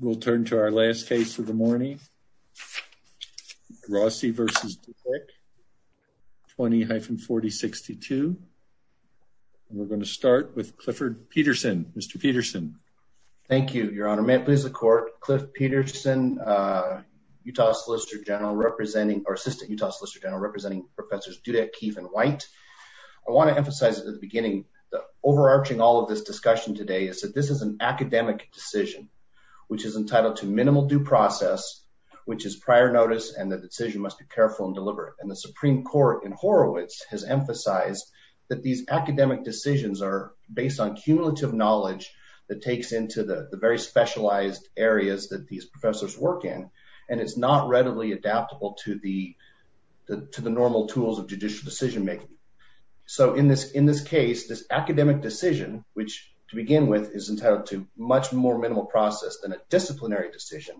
We'll turn to our last case of the morning. Rossi v. Dudek, 20-4062. We're going to start with Clifford Peterson. Mr. Peterson. Thank you, your honor. May it please the court. Cliff Peterson, Utah Solicitor General representing, or Assistant Utah Solicitor General representing Professors Dudek, Keefe, and White. I want to emphasize at the beginning that overarching all of this discussion today is that this is an academic decision, which is entitled to minimal due process, which is prior notice, and the decision must be careful and deliberate. And the Supreme Court in Horowitz has emphasized that these academic decisions are based on cumulative knowledge that takes into the very specialized areas that these professors work in, and it's not readily adaptable to the normal tools of judicial decision making. So in this case, this academic decision, which to begin with is entitled to much more minimal process than a disciplinary decision.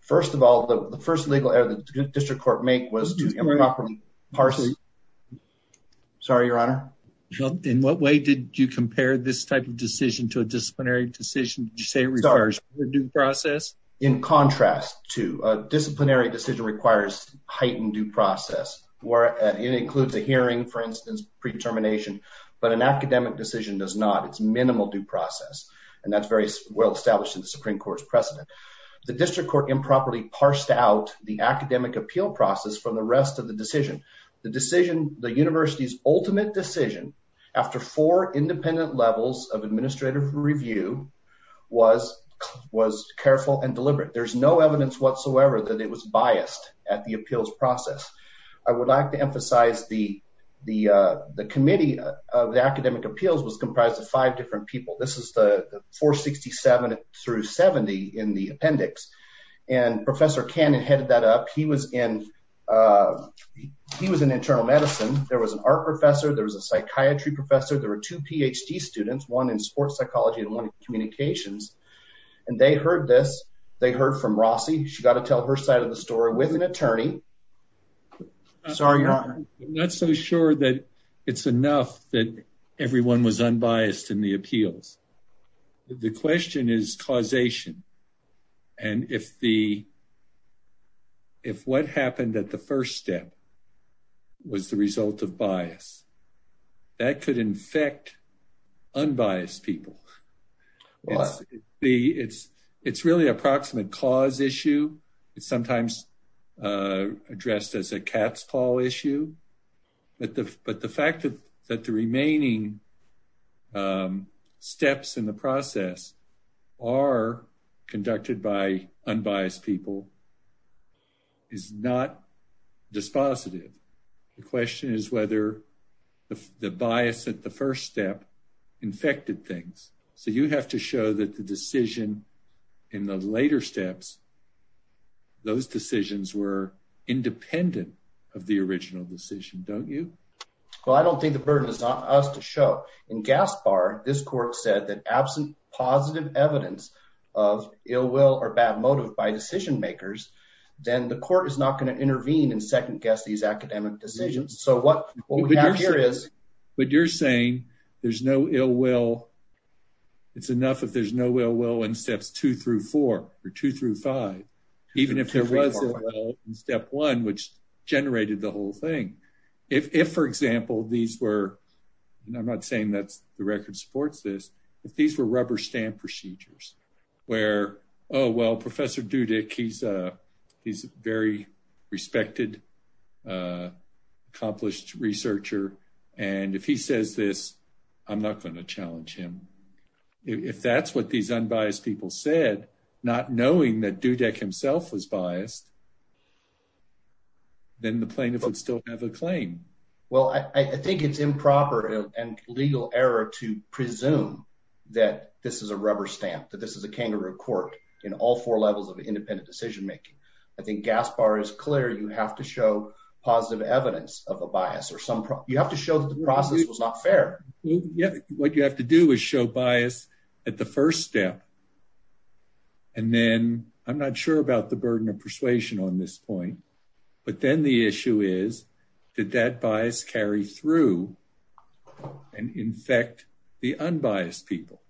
First of all, the first legal error the district court make was to improperly parse. Sorry, your honor. In what way did you compare this type of decision to a disciplinary decision? Did you say it requires due process? In contrast to a disciplinary decision requires heightened due process, where it includes a hearing, for instance, predetermination, but an academic decision does not. It's minimal due process, and that's very well established in the Supreme Court's precedent. The district court improperly parsed out the academic appeal process from the rest of the decision. The decision, the university's ultimate decision, after four independent levels of administrative review, was careful and deliberate. There's no evidence whatsoever that it was biased at the appeals process. I would like to emphasize the committee of the academic appeals was comprised of five different people. This is the 467 through 70 in the appendix, and Professor Cannon headed that up. He was in internal medicine. There was an art professor. There was a psychiatry professor. There were two PhD students, one in her side of the story with an attorney. Sorry, your honor. I'm not so sure that it's enough that everyone was unbiased in the appeals. The question is causation, and if what happened at the first step was the result of bias, that could infect unbiased people. It's really approximate cause issue. It's sometimes addressed as a cat's paw issue, but the fact that the remaining steps in the process are conducted by unbiased people is not dispositive. The question is whether the bias at the first step infected things, so you have to show that the decision in the later steps, those decisions were independent of the original decision, don't you? Well, I don't think the burden is on us to show. In Gaspar, this court said that absent positive evidence of ill will or bad motive by decision makers, then the court is not going to intervene and second guess these academic decisions, so what we have here is... But you're saying there's no ill will. It's enough if there's no ill will in steps two through four or two through five, even if there was a step one, which generated the whole thing. If, for example, these were, and I'm not saying that the record supports this, if these were rubber stamp procedures where, oh, well, Professor Dudick, he's a very respected, accomplished researcher, and if he says this, I'm not going to challenge him. If that's what these unbiased people said, not knowing that Dudick himself was biased, then the plaintiff would still have a claim. Well, I think it's improper and legal error to presume that this is a rubber stamp, that this is a kangaroo court in all four levels of independent decision making. I think Gaspar is to show positive evidence of a bias. You have to show that the process was not fair. What you have to do is show bias at the first step, and then, I'm not sure about the burden of persuasion on this point, but then the issue is, did that bias carry through and infect the unbiased people?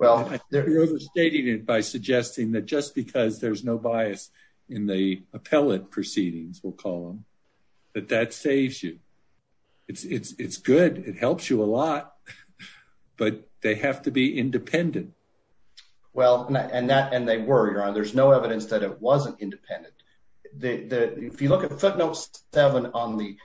You're overstating it by suggesting that just because there's no appellate proceedings, we'll call them, that that saves you. It's good. It helps you a lot, but they have to be independent. Well, and they were. There's no evidence that it wasn't independent. If you look at footnote seven on the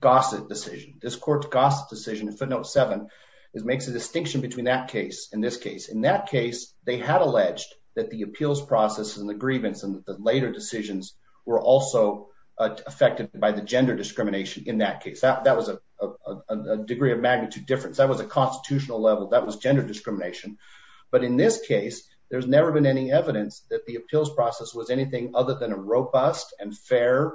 Gossett decision, this court's Gossett decision in footnote seven, it makes a distinction between that case and this case. In that case, they had alleged that the appeals process and the grievance and the later decisions were also affected by the gender discrimination in that case. That was a degree of magnitude difference. That was a constitutional level. That was gender discrimination, but in this case, there's never been any evidence that the appeals process was anything other than a robust and fair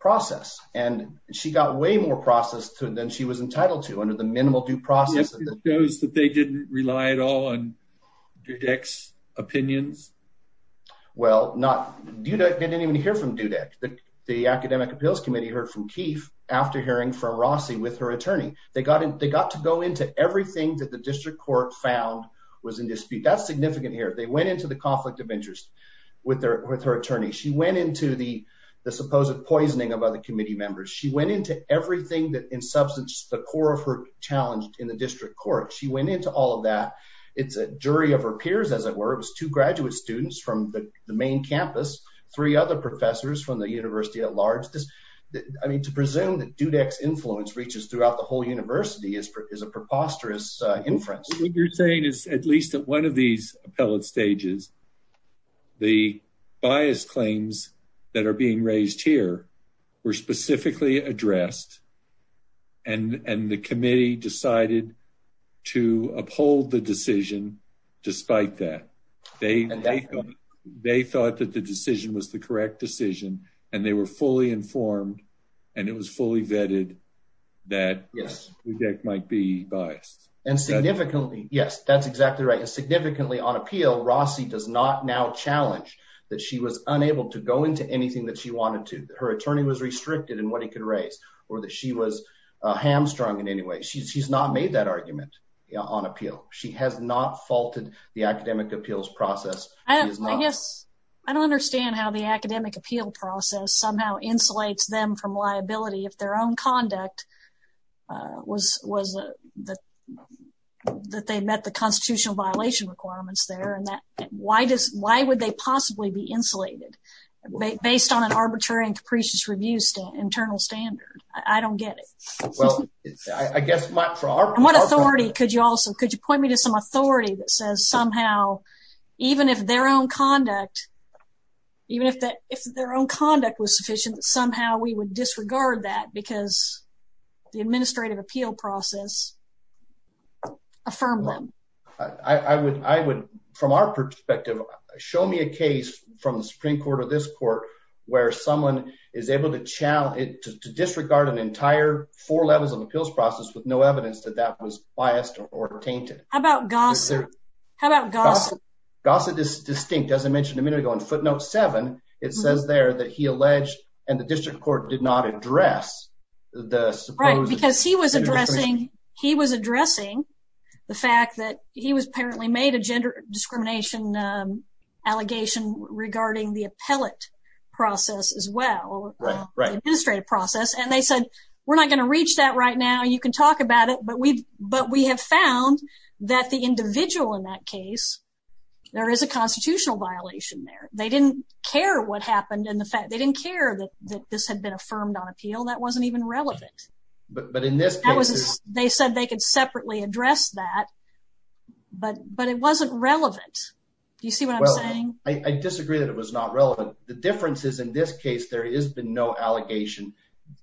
process, and she got way more process than she was entitled to under the minimal due process. It shows that they didn't rely at all on Dudek's opinions? Well, Dudek didn't even hear from Dudek. The academic appeals committee heard from Keefe after hearing from Rossi with her attorney. They got to go into everything that the district court found was in dispute. That's significant here. They went into the conflict of interest with her attorney. She went into the supposed poisoning of other committee members. She went into everything that in substance, the core of her challenge in the district court. She went into all of that. It's a jury of her peers, as it were. It was two graduate students from the main campus, three other professors from the university at large. I mean, to presume that Dudek's influence reaches throughout the whole university is a preposterous inference. What you're saying is at least at one of these appellate stages, the bias claims that are being raised here were specifically addressed and the committee decided to uphold the decision despite that. They thought that the decision was the correct decision and they were fully informed and it was fully vetted that Dudek might be biased. Yes, that's exactly right. And significantly on appeal, Rossi does not now challenge that she was unable to go into anything that she wanted to. Her attorney was restricted in what he could raise or that she was hamstrung in any way. She's not made that argument on appeal. She has not faulted the academic appeals process. I guess I don't understand how the academic appeal process somehow insulates them from liability if their own conduct was that they met the constitutional violation requirements there. Why would they possibly be insulated based on an arbitrary and capricious review internal standard? I don't get it. What authority could you also, could you point me to some authority that says somehow even if their own conduct was sufficient, somehow we would from our perspective, show me a case from the Supreme Court or this court where someone is able to challenge it to disregard an entire four levels of appeals process with no evidence that that was biased or tainted. How about Gossett? How about Gossett? Gossett is distinct. As I mentioned a minute ago in footnote seven, it says there that he alleged and the district court did not address the supposed... Right, because he was addressing the fact that he was apparently made a gender discrimination allegation regarding the appellate process as well, the administrative process, and they said we're not going to reach that right now. You can talk about it, but we have found that the individual in that case, there is a constitutional violation there. They didn't care what happened in the fact, they didn't care that this had been affirmed on appeal. That wasn't even relevant. But in this case, they said they could separately address that, but it wasn't relevant. Do you see what I'm saying? I disagree that it was not relevant. The difference is in this case, there has been no allegation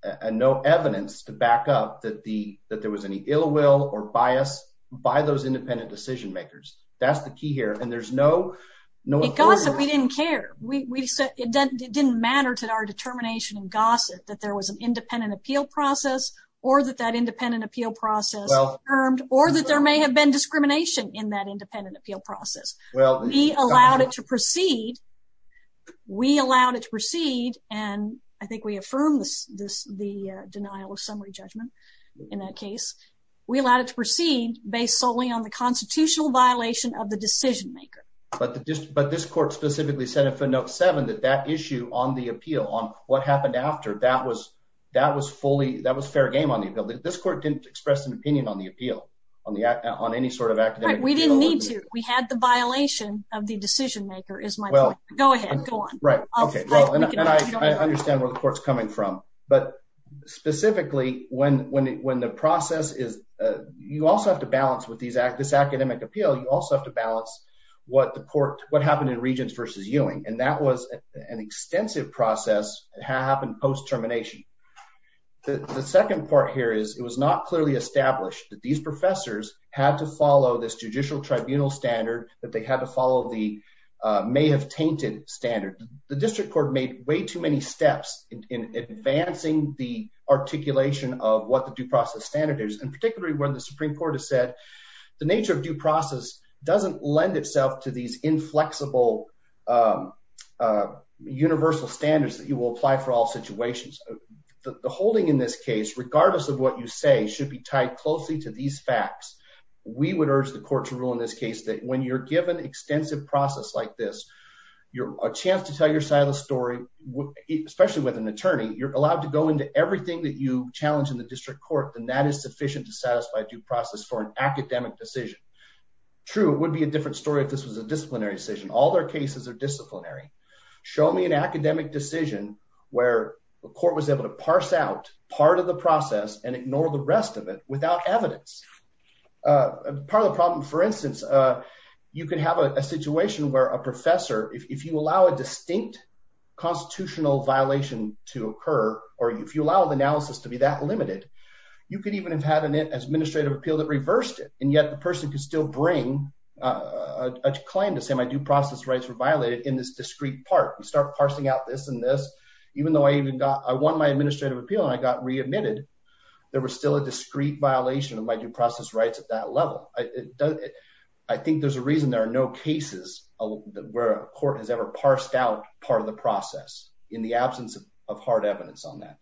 and no evidence to back up that the, that there was any ill will or bias by those independent decision makers. That's the key here. And there's no... We didn't care. We said it didn't matter to our determination and gossip that there was an independent appeal process or that that independent appeal process affirmed, or that there may have been discrimination in that independent appeal process. Well, we allowed it to proceed. We allowed it to proceed. And I think we affirmed this, the denial of summary judgment. In that case, we allowed it to proceed based solely on the violation of the decision maker. But this court specifically said in footnote seven, that that issue on the appeal, on what happened after that was, that was fully, that was fair game on the appeal. This court didn't express an opinion on the appeal, on the, on any sort of academic appeal. We didn't need to. We had the violation of the decision maker is my point. Go ahead, go on. Right. Okay. And I understand where the court's coming from, but specifically when, when, when the process is, you also have to balance with this academic appeal. You also have to balance what the court, what happened in Regents versus Ewing. And that was an extensive process. It happened post termination. The second part here is it was not clearly established that these professors had to follow this judicial tribunal standard that they had to follow the may have tainted standard. The district court made way too many steps in advancing the articulation of what the due process standard is. And particularly when the Supreme court has said the nature of due process doesn't lend itself to these inflexible universal standards that you will apply for all situations. The holding in this case, regardless of what you say should be tied closely to these facts. We would urge the court to rule in this case that when you're given extensive process like this, you're a chance to tell your side of the story, especially with an attorney, you're allowed to go into everything that you do process for an academic decision. True. It would be a different story. If this was a disciplinary decision, all their cases are disciplinary. Show me an academic decision where the court was able to parse out part of the process and ignore the rest of it without evidence. Part of the problem, for instance, you can have a situation where a professor, if you allow a distinct constitutional violation to occur, or if you allow the analysis to be that limited, you could even have had an administrative appeal that reversed it. And yet the person could still bring a claim to say my due process rights were violated in this discrete part. You start parsing out this and this, even though I even got, I won my administrative appeal and I got readmitted. There was still a discrete violation of my due process rights at that level. I think there's a reason there are no cases where a court has ever parsed out part of the process in the absence of hard evidence on that.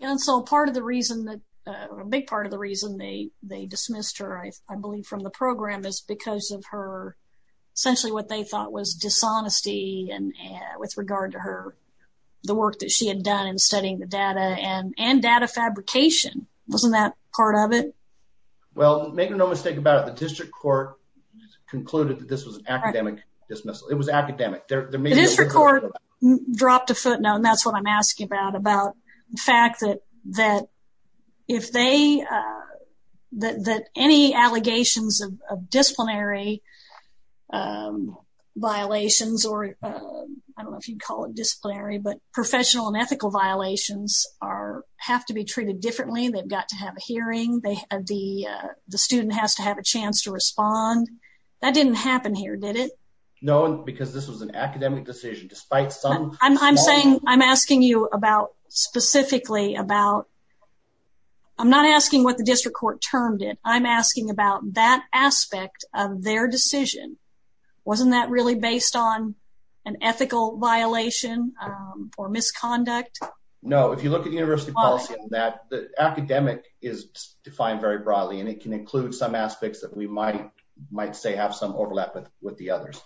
And so part of the reason that, a big part of the reason they dismissed her, I believe from the program is because of her, essentially what they thought was dishonesty and with regard to her, the work that she had done in studying the data and data fabrication. Wasn't that part of it? Well, make no mistake about it. The district court concluded that this was an academic dismissal. It was academic. The district court dropped a footnote, and that's what I'm asking about, about the fact that any allegations of disciplinary violations, or I don't know if you'd call it disciplinary, but professional and ethical violations have to be treated differently. They've got to have a hearing. The student has to have a hearing. No, because this was an academic decision. I'm saying, I'm asking you about specifically about, I'm not asking what the district court termed it. I'm asking about that aspect of their decision. Wasn't that really based on an ethical violation or misconduct? No, if you look at the university policy on that, the academic is defined very broadly, and it can include some aspects that we might say have some overlap with the others.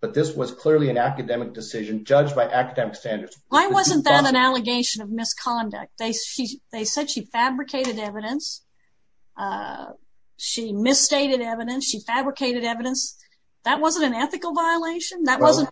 But this was clearly an academic decision judged by academic standards. Why wasn't that an allegation of misconduct? They said she fabricated evidence. She misstated evidence. She fabricated evidence. That wasn't an ethical violation. That wasn't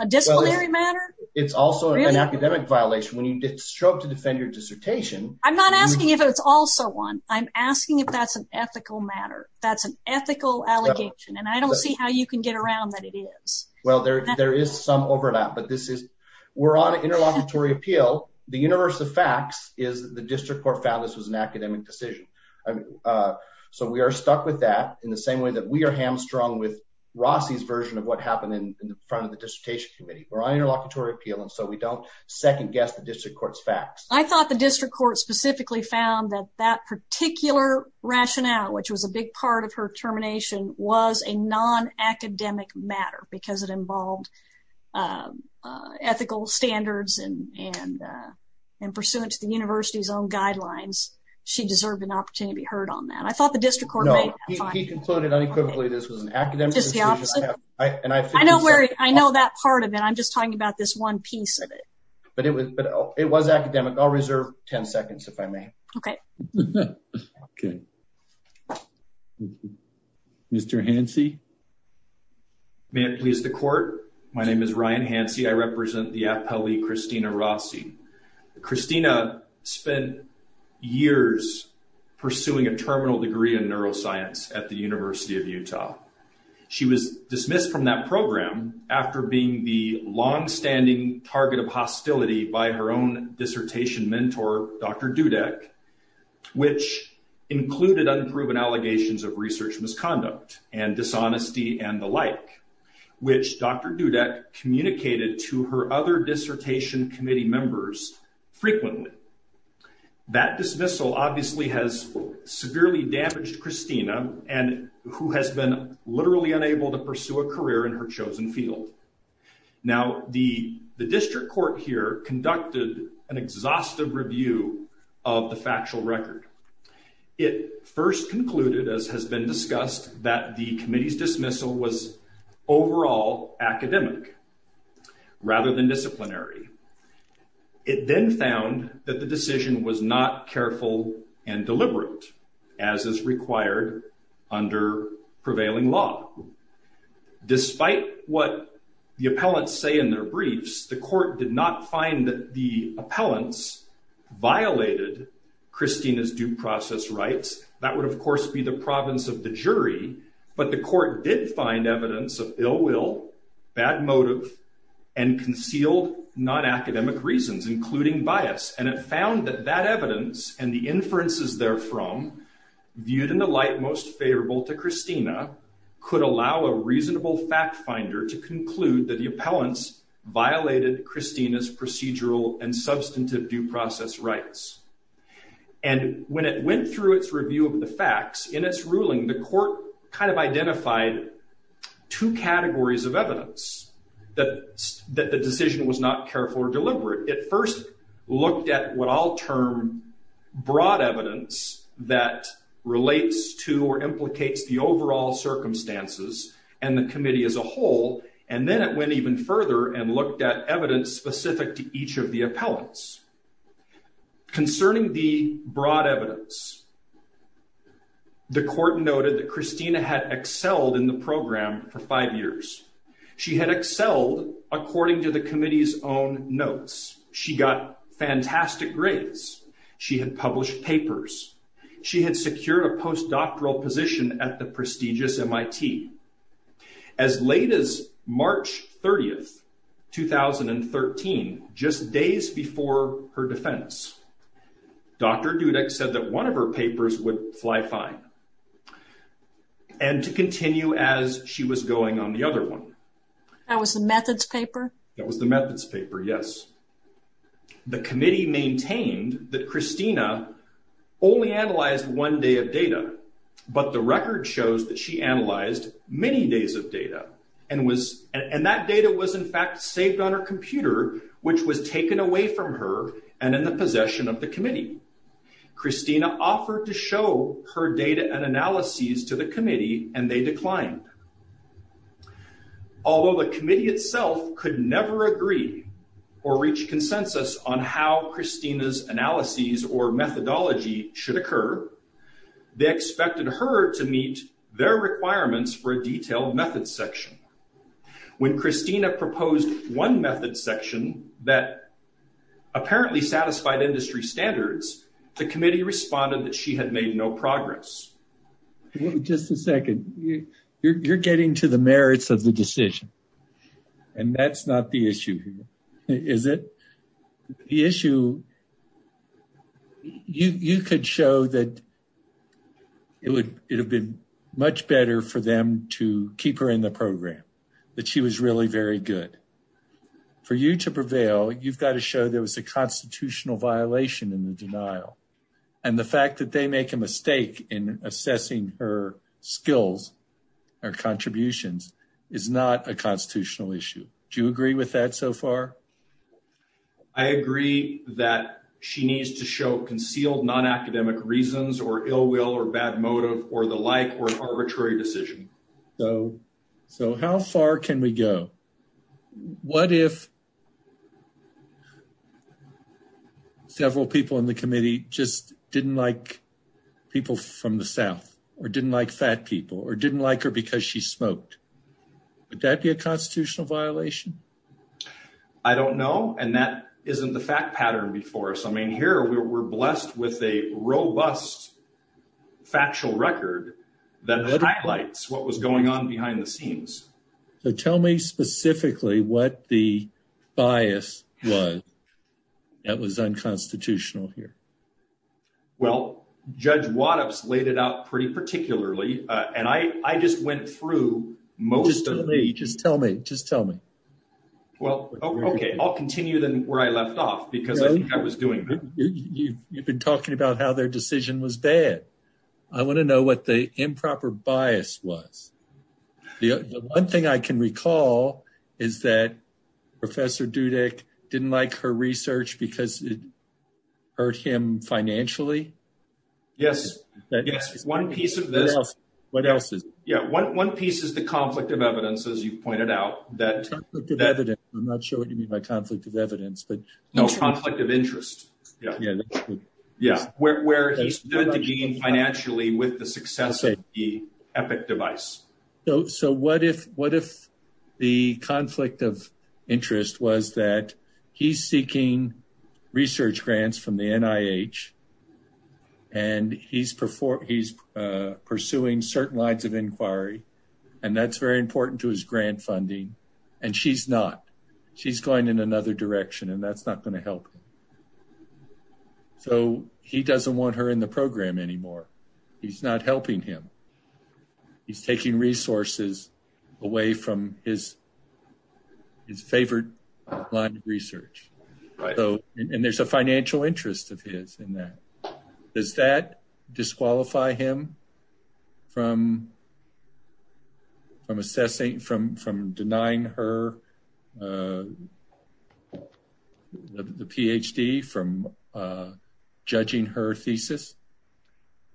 a disciplinary matter. It's also an academic violation. When you did stroke to defend your dissertation. I'm not asking if it's also one. I'm asking if that's an ethical matter. That's an ethical allegation, and I don't see how you can get around that it is. Well, there is some overlap, but this is, we're on an interlocutory appeal. The universe of facts is the district court found this was an academic decision. So we are stuck with that in the same way that we are hamstrung with Rossi's version of what happened in the front of the dissertation committee. We're on interlocutory appeal, and so we don't second guess the district court's facts. I thought the district court found that that particular rationale, which was a big part of her termination, was a non-academic matter because it involved ethical standards and pursuant to the university's own guidelines. She deserved an opportunity to be heard on that. I thought the district court made that. He concluded unequivocally this was an academic decision. I know that part of it. I'm okay. Okay. Mr. Hansi. May it please the court. My name is Ryan Hansi. I represent the appellee Christina Rossi. Christina spent years pursuing a terminal degree in neuroscience at the University of Utah. She was dismissed from that program after being the longstanding target of hostility by her dissertation mentor, Dr. Dudek, which included unproven allegations of research misconduct and dishonesty and the like, which Dr. Dudek communicated to her other dissertation committee members frequently. That dismissal obviously has severely damaged Christina, who has been literally unable to pursue a career in her chosen field. Now, the district court here conducted an exhaustive review of the factual record. It first concluded, as has been discussed, that the committee's dismissal was overall academic rather than disciplinary. It then found that the decision was not careful and deliberate as is required under prevailing law. Despite what the appellants say in their briefs, the court did not find that the appellants violated Christina's due process rights. That would of course be the province of the jury, but the court did find evidence of ill will, bad motive, and concealed non-academic reasons, including bias, and it found that that evidence and the inferences therefrom, viewed in the light most favorable to Christina, could allow a reasonable fact finder to conclude that the appellants violated Christina's procedural and substantive due process rights. And when it went through its review of the facts in its ruling, the court kind of identified two categories of evidence that the decision was not careful or deliberate. It first looked at what I'll term broad evidence that relates to or implicates the overall circumstances and the committee as a whole, and then it went even further and looked at evidence specific to each of the appellants. Concerning the broad evidence, the court noted that Christina had excelled in the program for five years. She had excelled according to the committee's own notes. She got fantastic grades. She had published papers. She had secured a postdoctoral position at the prestigious MIT. As late as March 30th, 2013, just days before her defense, Dr. Dudek said that one of her papers would fly fine, and to continue as she was going on the other one. That was the methods paper? That was the methods paper, yes. The committee maintained that Christina only analyzed one day of data, but the record shows that she analyzed many days of data, and that data was in fact saved on her computer, which was taken away from her and in the possession of the committee. Christina offered to show her data and analyses to the committee, and they declined. Although the committee itself could never agree or reach consensus on how Christina's analyses or methodology should occur, they expected her to meet their requirements for a detailed methods section. When Christina proposed one methods section that apparently satisfied industry standards, the committee responded that she had made no progress. Just a second. You're getting to the merits of the decision, and that's not the issue here, is it? The issue, you could show that it would have been much better for them to keep her in the program, that she was really very good. For you to prevail, you've got to show there was a constitutional violation in the denial, and the fact that they make a mistake in assessing her skills or contributions is not a constitutional issue. Do you agree with that so far? I agree that she needs to show concealed non-academic reasons, or ill will, or bad motive, or the like, or an arbitrary decision. So how far can we go? What if several people in the committee just didn't like people from the South, or didn't like fat people, or didn't like her because she smoked? Would that be a constitutional violation? I don't know, and that isn't the fact pattern before us. I mean, here we're blessed with a robust factual record that highlights what was going on behind the scenes. So tell me specifically what the bias was that was unconstitutional here. Well, Judge Waddups laid it out pretty particularly, and I just went through most of the- Just tell me, just tell me. Well, okay, I'll continue then where I left off, because I think I was doing- You've been talking about how their decision was bad. I want to know what the improper bias was. The one thing I can recall is that Professor Dudek didn't like her research because it hurt him financially. Yes, yes, one piece of this- What else is it? Yeah, one piece is the conflict of evidence. I'm not sure what you mean by conflict of evidence, but- No, conflict of interest. Yeah, where he stood to gain financially with the success of the Epic device. So what if the conflict of interest was that he's seeking research grants from the NIH, and he's pursuing certain lines of inquiry, and that's very important to his grant funding, and she's not. She's going in another direction, and that's not going to help him. So he doesn't want her in the program anymore. He's not helping him. He's taking resources away from his favorite line of research, and there's a financial interest of his in that. Does that disqualify him from denying her the PhD, from judging her thesis?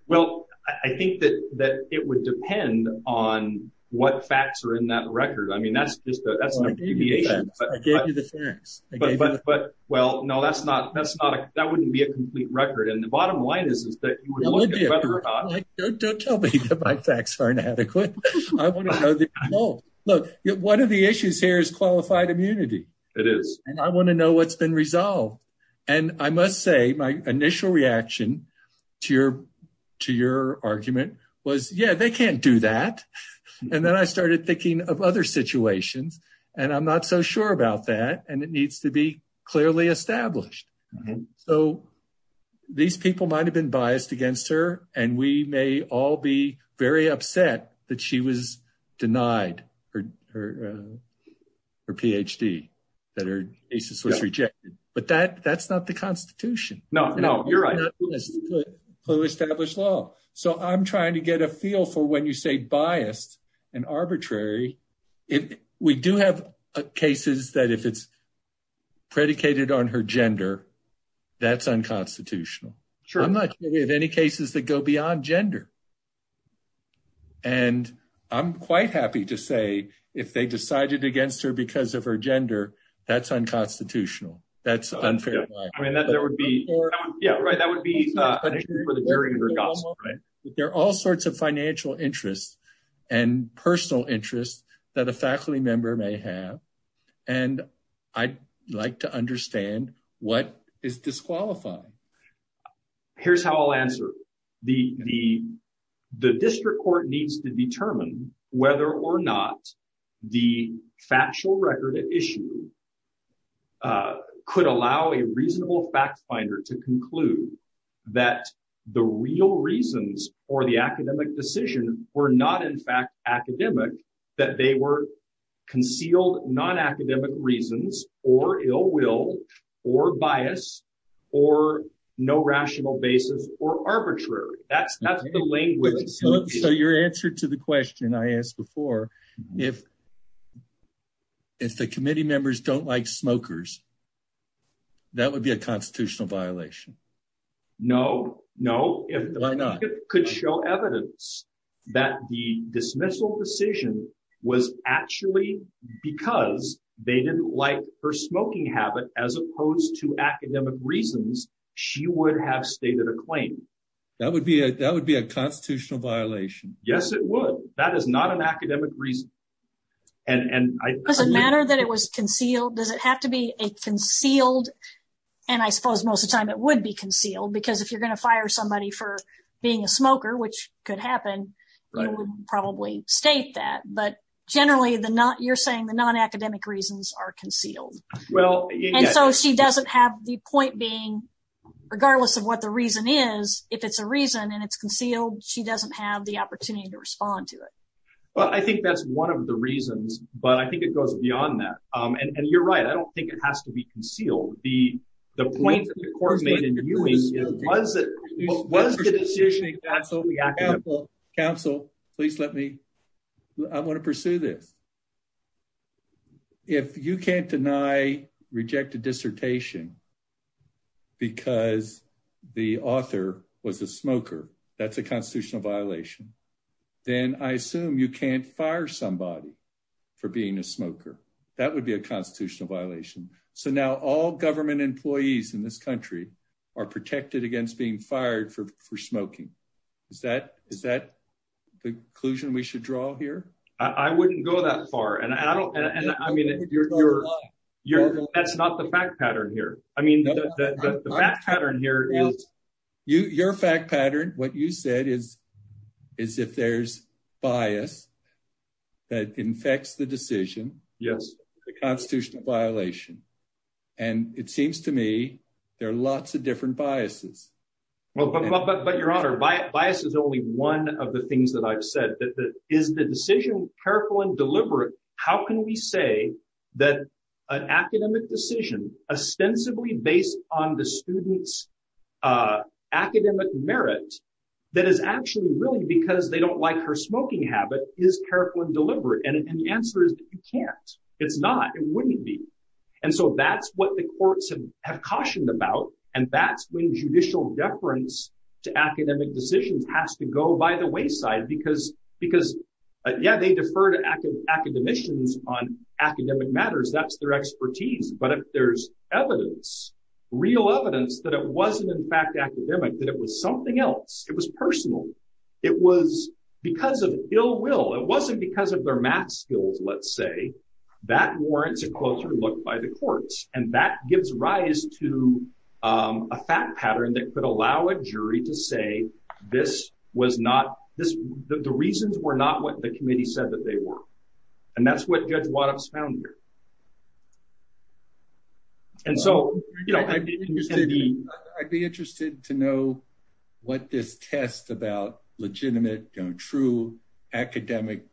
Well, I think that it would depend on what facts are in that record. I mean, that's just a- Well, I gave you the facts. I gave you the facts. Well, no, that wouldn't be a complete record, and the bottom line is that you would look at whether or not- Don't tell me that my facts are inadequate. Look, one of the issues here is qualified immunity. It is. And I want to know what's been resolved, and I must say, my initial reaction to your argument was, yeah, they can't do that, and then I started thinking of other situations, and I'm not so sure about that, and it needs to be clearly established. So these people might have been biased against her, and we may all be very upset that she was denied her PhD, that her thesis was rejected, but that's not the Constitution. No, no, you're right. Clue established law. So I'm trying to get a feel for when you say biased and arbitrary. We do have cases that if it's predicated on her gender, that's unconstitutional. Sure. I'm not sure we have any cases that go beyond gender, and I'm quite happy to say if they decided against her because of her gender, that's unconstitutional. That's unfair. I mean, that would be- Yeah, right, that would be- There are all sorts of financial interests and personal interests that a faculty member may have, and I'd like to understand what is disqualifying. Here's how I'll answer. The district court needs to determine whether or not the factual record at issue could allow a reasonable fact finder to conclude that the real reasons for the academic decision were not in fact academic, that they were concealed non-academic reasons, or ill will, or bias, or no rational basis, or arbitrary. That's the language. So your answer to the question I asked before, if the committee members don't like smokers, that would be a constitutional violation. No, no. Why not? Evidence that the dismissal decision was actually because they didn't like her smoking habit as opposed to academic reasons, she would have stated a claim. That would be a constitutional violation. Yes, it would. That is not an academic reason. Does it matter that it was concealed? Does it have to be concealed? And I suppose most of the time it would be concealed, because if you're which could happen, you would probably state that. But generally, you're saying the non-academic reasons are concealed. And so she doesn't have the point being, regardless of what the reason is, if it's a reason and it's concealed, she doesn't have the opportunity to respond to it. Well, I think that's one of the reasons, but I think it goes beyond that. And you're right, I don't think it has to be concealed. The point the court made in viewing it was that was the decision. Council, please let me, I want to pursue this. If you can't deny rejected dissertation because the author was a smoker, that's a constitutional violation. Then I assume you can't fire somebody for being a smoker. That would be a constitutional violation. So now all government employees in this country are protected against being fired for smoking. Is that the conclusion we should draw here? I wouldn't go that far. And I mean, that's not the fact pattern here. I mean, the fact pattern here is. Your fact pattern, what you said is, is if there's bias that infects the decision. Yes, constitutional violation. And it seems to me there are lots of different biases. Well, but your honor, bias is only one of the things that I've said that is the decision careful and deliberate. How can we say that an academic decision ostensibly based on the student's academic merit that is actually really because they don't like her smoking habit is careful and deliberate. And the answer is you can't, it's not, it wouldn't be. And so that's what the courts have cautioned about. And that's when judicial deference to academic decisions has to go by the wayside because, because yeah, they defer to academicians on academic matters. That's their expertise. But if there's evidence, real evidence that it wasn't in fact academic, that was something else. It was personal. It was because of ill will. It wasn't because of their math skills. Let's say that warrants a closer look by the courts. And that gives rise to a fact pattern that could allow a jury to say, this was not this, the reasons were not what the committee said that they were. And that's what judge Wattups found here. And so, you know, I'd be interested to know what this test about legitimate, true academic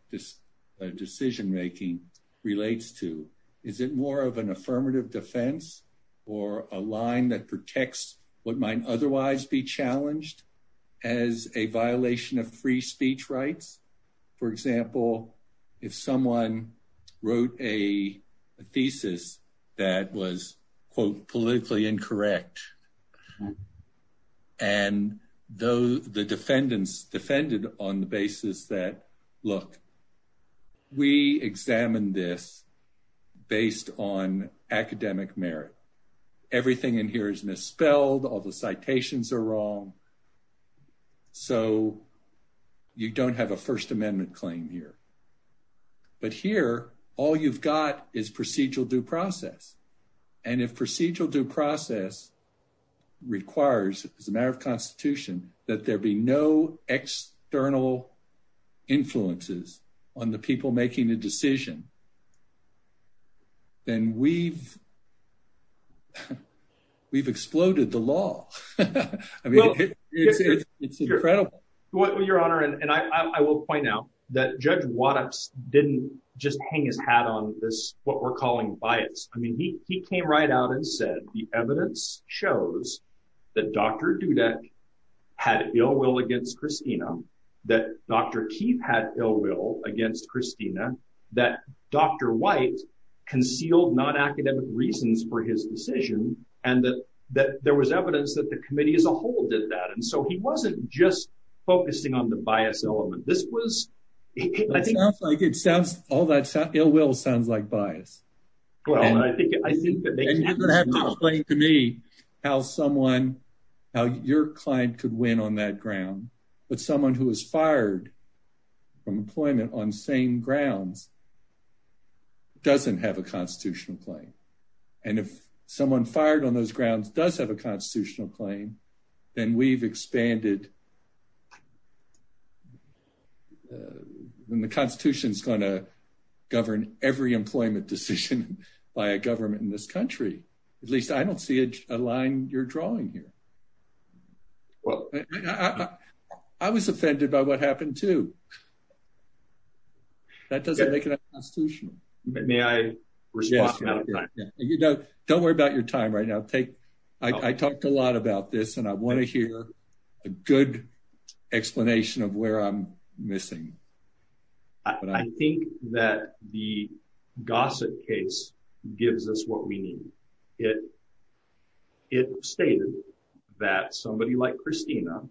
decision-making relates to. Is it more of an affirmative defense or a line that protects what might otherwise be challenged as a violation of free speech rights? For example, if someone wrote a thesis that was, quote, politically incorrect. And though the defendants defended on the basis that, look, we examined this based on academic merit. Everything in here is misspelled. All the citations are wrong. So you don't have a first amendment claim here. But here, all you've got is procedural due process. And if procedural due process requires, as a matter of constitution, that there be no external influences on the people making the decision, then we've, we've exploded the law. I mean, it's incredible. Your Honor, and I will point out that judge Wattups didn't just hang his hat on this, what we're calling bias. I mean, he came right out and said, the evidence shows that Dr. Dudek had ill will against Christina, that Dr. Keith had ill will against Christina, that Dr. White concealed non-academic reasons for his decision, and that, that there was evidence that the committee as a whole did that. And so he wasn't just focusing on the bias element. This was... It sounds like, it sounds, all that ill will sounds like bias. Well, I think, I think that... And you're going to have to explain to me how someone, how your client could win on that ground. But someone who is fired from employment on same grounds doesn't have a constitutional claim. And if someone fired on those grounds does have a constitutional claim, then we've expanded... And the constitution is going to govern every employment decision by a government in this country. At least I don't see a line you're drawing here. Well, I was offended by what happened too. That doesn't make it a constitutional. May I respond? Yes. Don't worry about your time right now. Take, I talked a lot about this and I want to hear you. I think that the Gossett case gives us what we need. It, it stated that somebody like Christina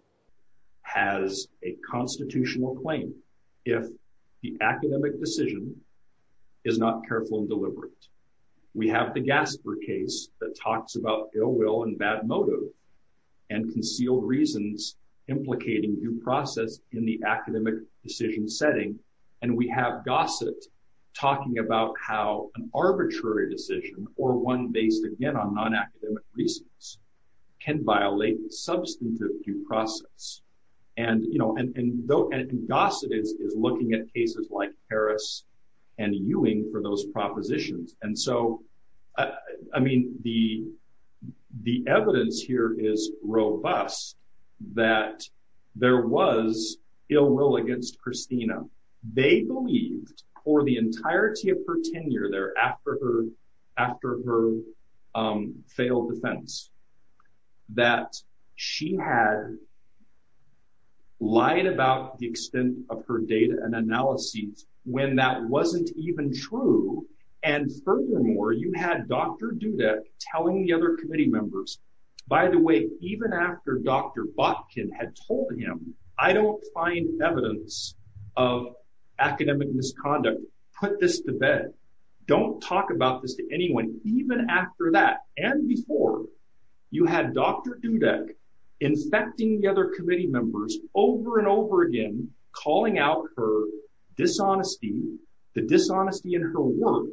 has a constitutional claim if the academic decision is not careful and deliberate. We have the Gasper case that talks about ill will and bad motive and concealed reasons implicating due process in the academic decision setting. And we have Gossett talking about how an arbitrary decision or one based again on non-academic reasons can violate substantive due process. And, you know, and though, and Gossett is looking at cases like Harris and Ewing for propositions. And so, I mean, the, the evidence here is robust that there was ill will against Christina. They believed for the entirety of her tenure there after her, after her failed defense that she had lied about the extent of her data and analyses when that wasn't even true. And furthermore, you had Dr. Dudek telling the other committee members, by the way, even after Dr. Botkin had told him, I don't find evidence of academic misconduct, put this to bed. Don't talk about this to anyone. Even after that and before you had Dr. Dudek infecting the other committee members over and over again, calling out her dishonesty, the dishonesty in her work,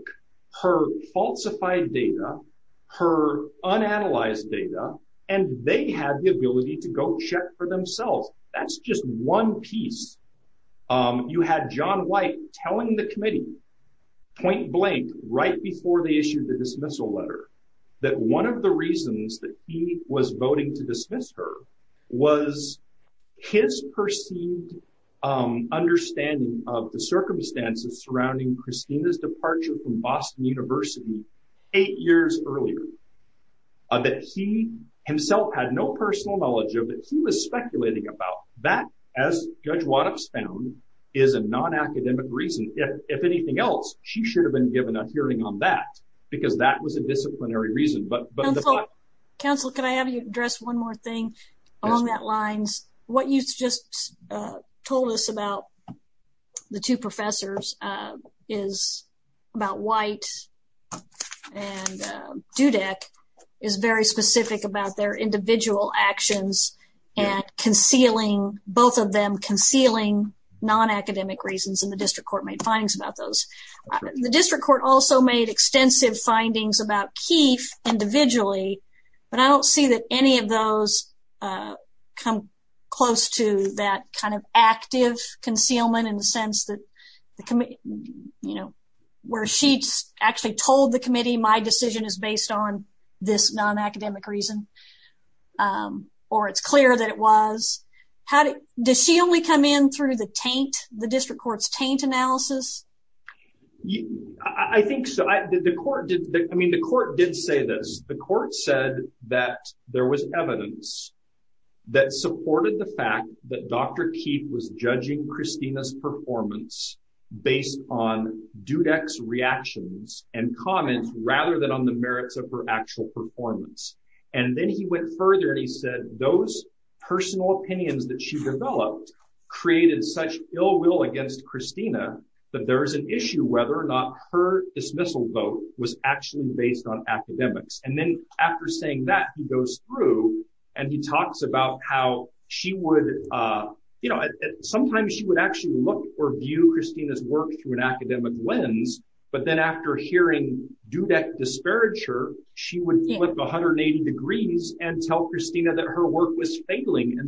her falsified data, her unanalyzed data, and they had the ability to go check for themselves. That's just one piece. You had John White telling the committee point blank right before they issued the dismissal letter that one of the reasons that he was voting to dismiss her was his perceived understanding of the circumstances surrounding Christina's departure from Boston University eight years earlier, that he himself had no personal knowledge of it. He was speculating about that as Judge Waddup's found is a non-academic reason. If anything else, she should have been given a hearing on that because that was a disciplinary reason. Counselor, can I have you address one more thing along that lines? What you just told us about the two professors is about White and Dudek is very specific about their individual actions and concealing, both of them concealing non-academic reasons and the district court findings about those. The district court also made extensive findings about Keefe individually, but I don't see that any of those come close to that kind of active concealment in the sense that where she actually told the committee my decision is based on this non-academic reason or it's clear that it was. Does she only come in through the district court's taint analysis? I think so. The court did say this. The court said that there was evidence that supported the fact that Dr. Keefe was judging Christina's performance based on Dudek's reactions and comments rather than on the merits of her actual performance. Then he went further and he personal opinions that she developed created such ill will against Christina that there is an issue whether or not her dismissal vote was actually based on academics. Then after saying that, he goes through and he talks about how sometimes she would actually look or view Christina's work through an academic lens, but then after hearing Dudek disparage her, she would flip 180 degrees and tell Christina that her work was failing.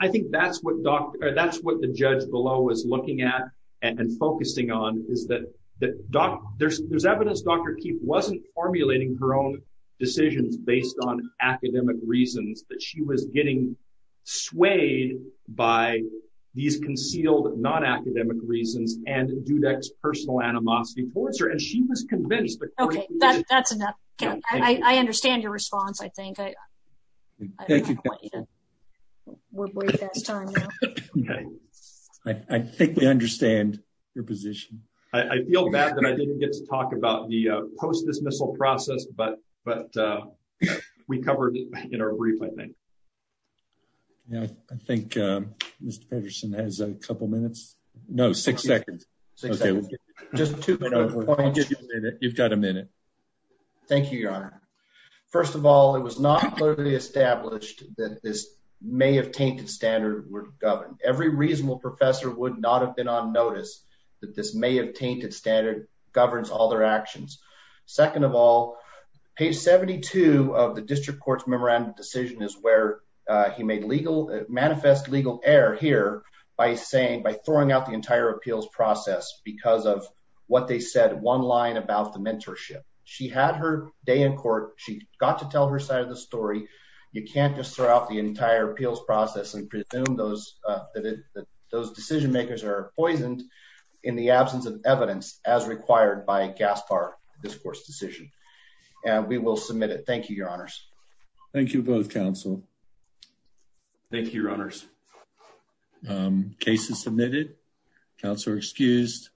I think that's what the judge below is looking at and focusing on is that there's evidence Dr. Keefe wasn't formulating her own decisions based on academic reasons, that she was getting swayed by these concealed non-academic reasons and Dudek's personal animosity towards her and she was convinced. Okay, that's enough. I understand your response, I think. Thank you. I think we understand your position. I feel bad that I didn't get to talk about the post-dismissal process, but we covered it in our brief, I think. Yeah, I think Mr. Pedersen has a couple minutes. No, six seconds. Okay, just two minutes. You've got a minute. Thank you, Your Honor. First of all, it was not clearly established that this may have tainted standard would govern. Every reasonable professor would not have been on notice that this may have tainted standard governs all their actions. Second of all, page 72 of the district court's memorandum decision is where he made manifest legal error here by saying, by throwing out the entire appeals process because of what they said one line about the mentorship. She had her day in court. She got to tell her side of the story. You can't just throw out the entire appeals process and presume that those decision makers are poisoned in the absence of evidence as required by Gaspar, this court's decision and we will submit it. Thank you, Your Honors. Thank you both, counsel. Thank you, Your Honors. Case is submitted. Counselor excused.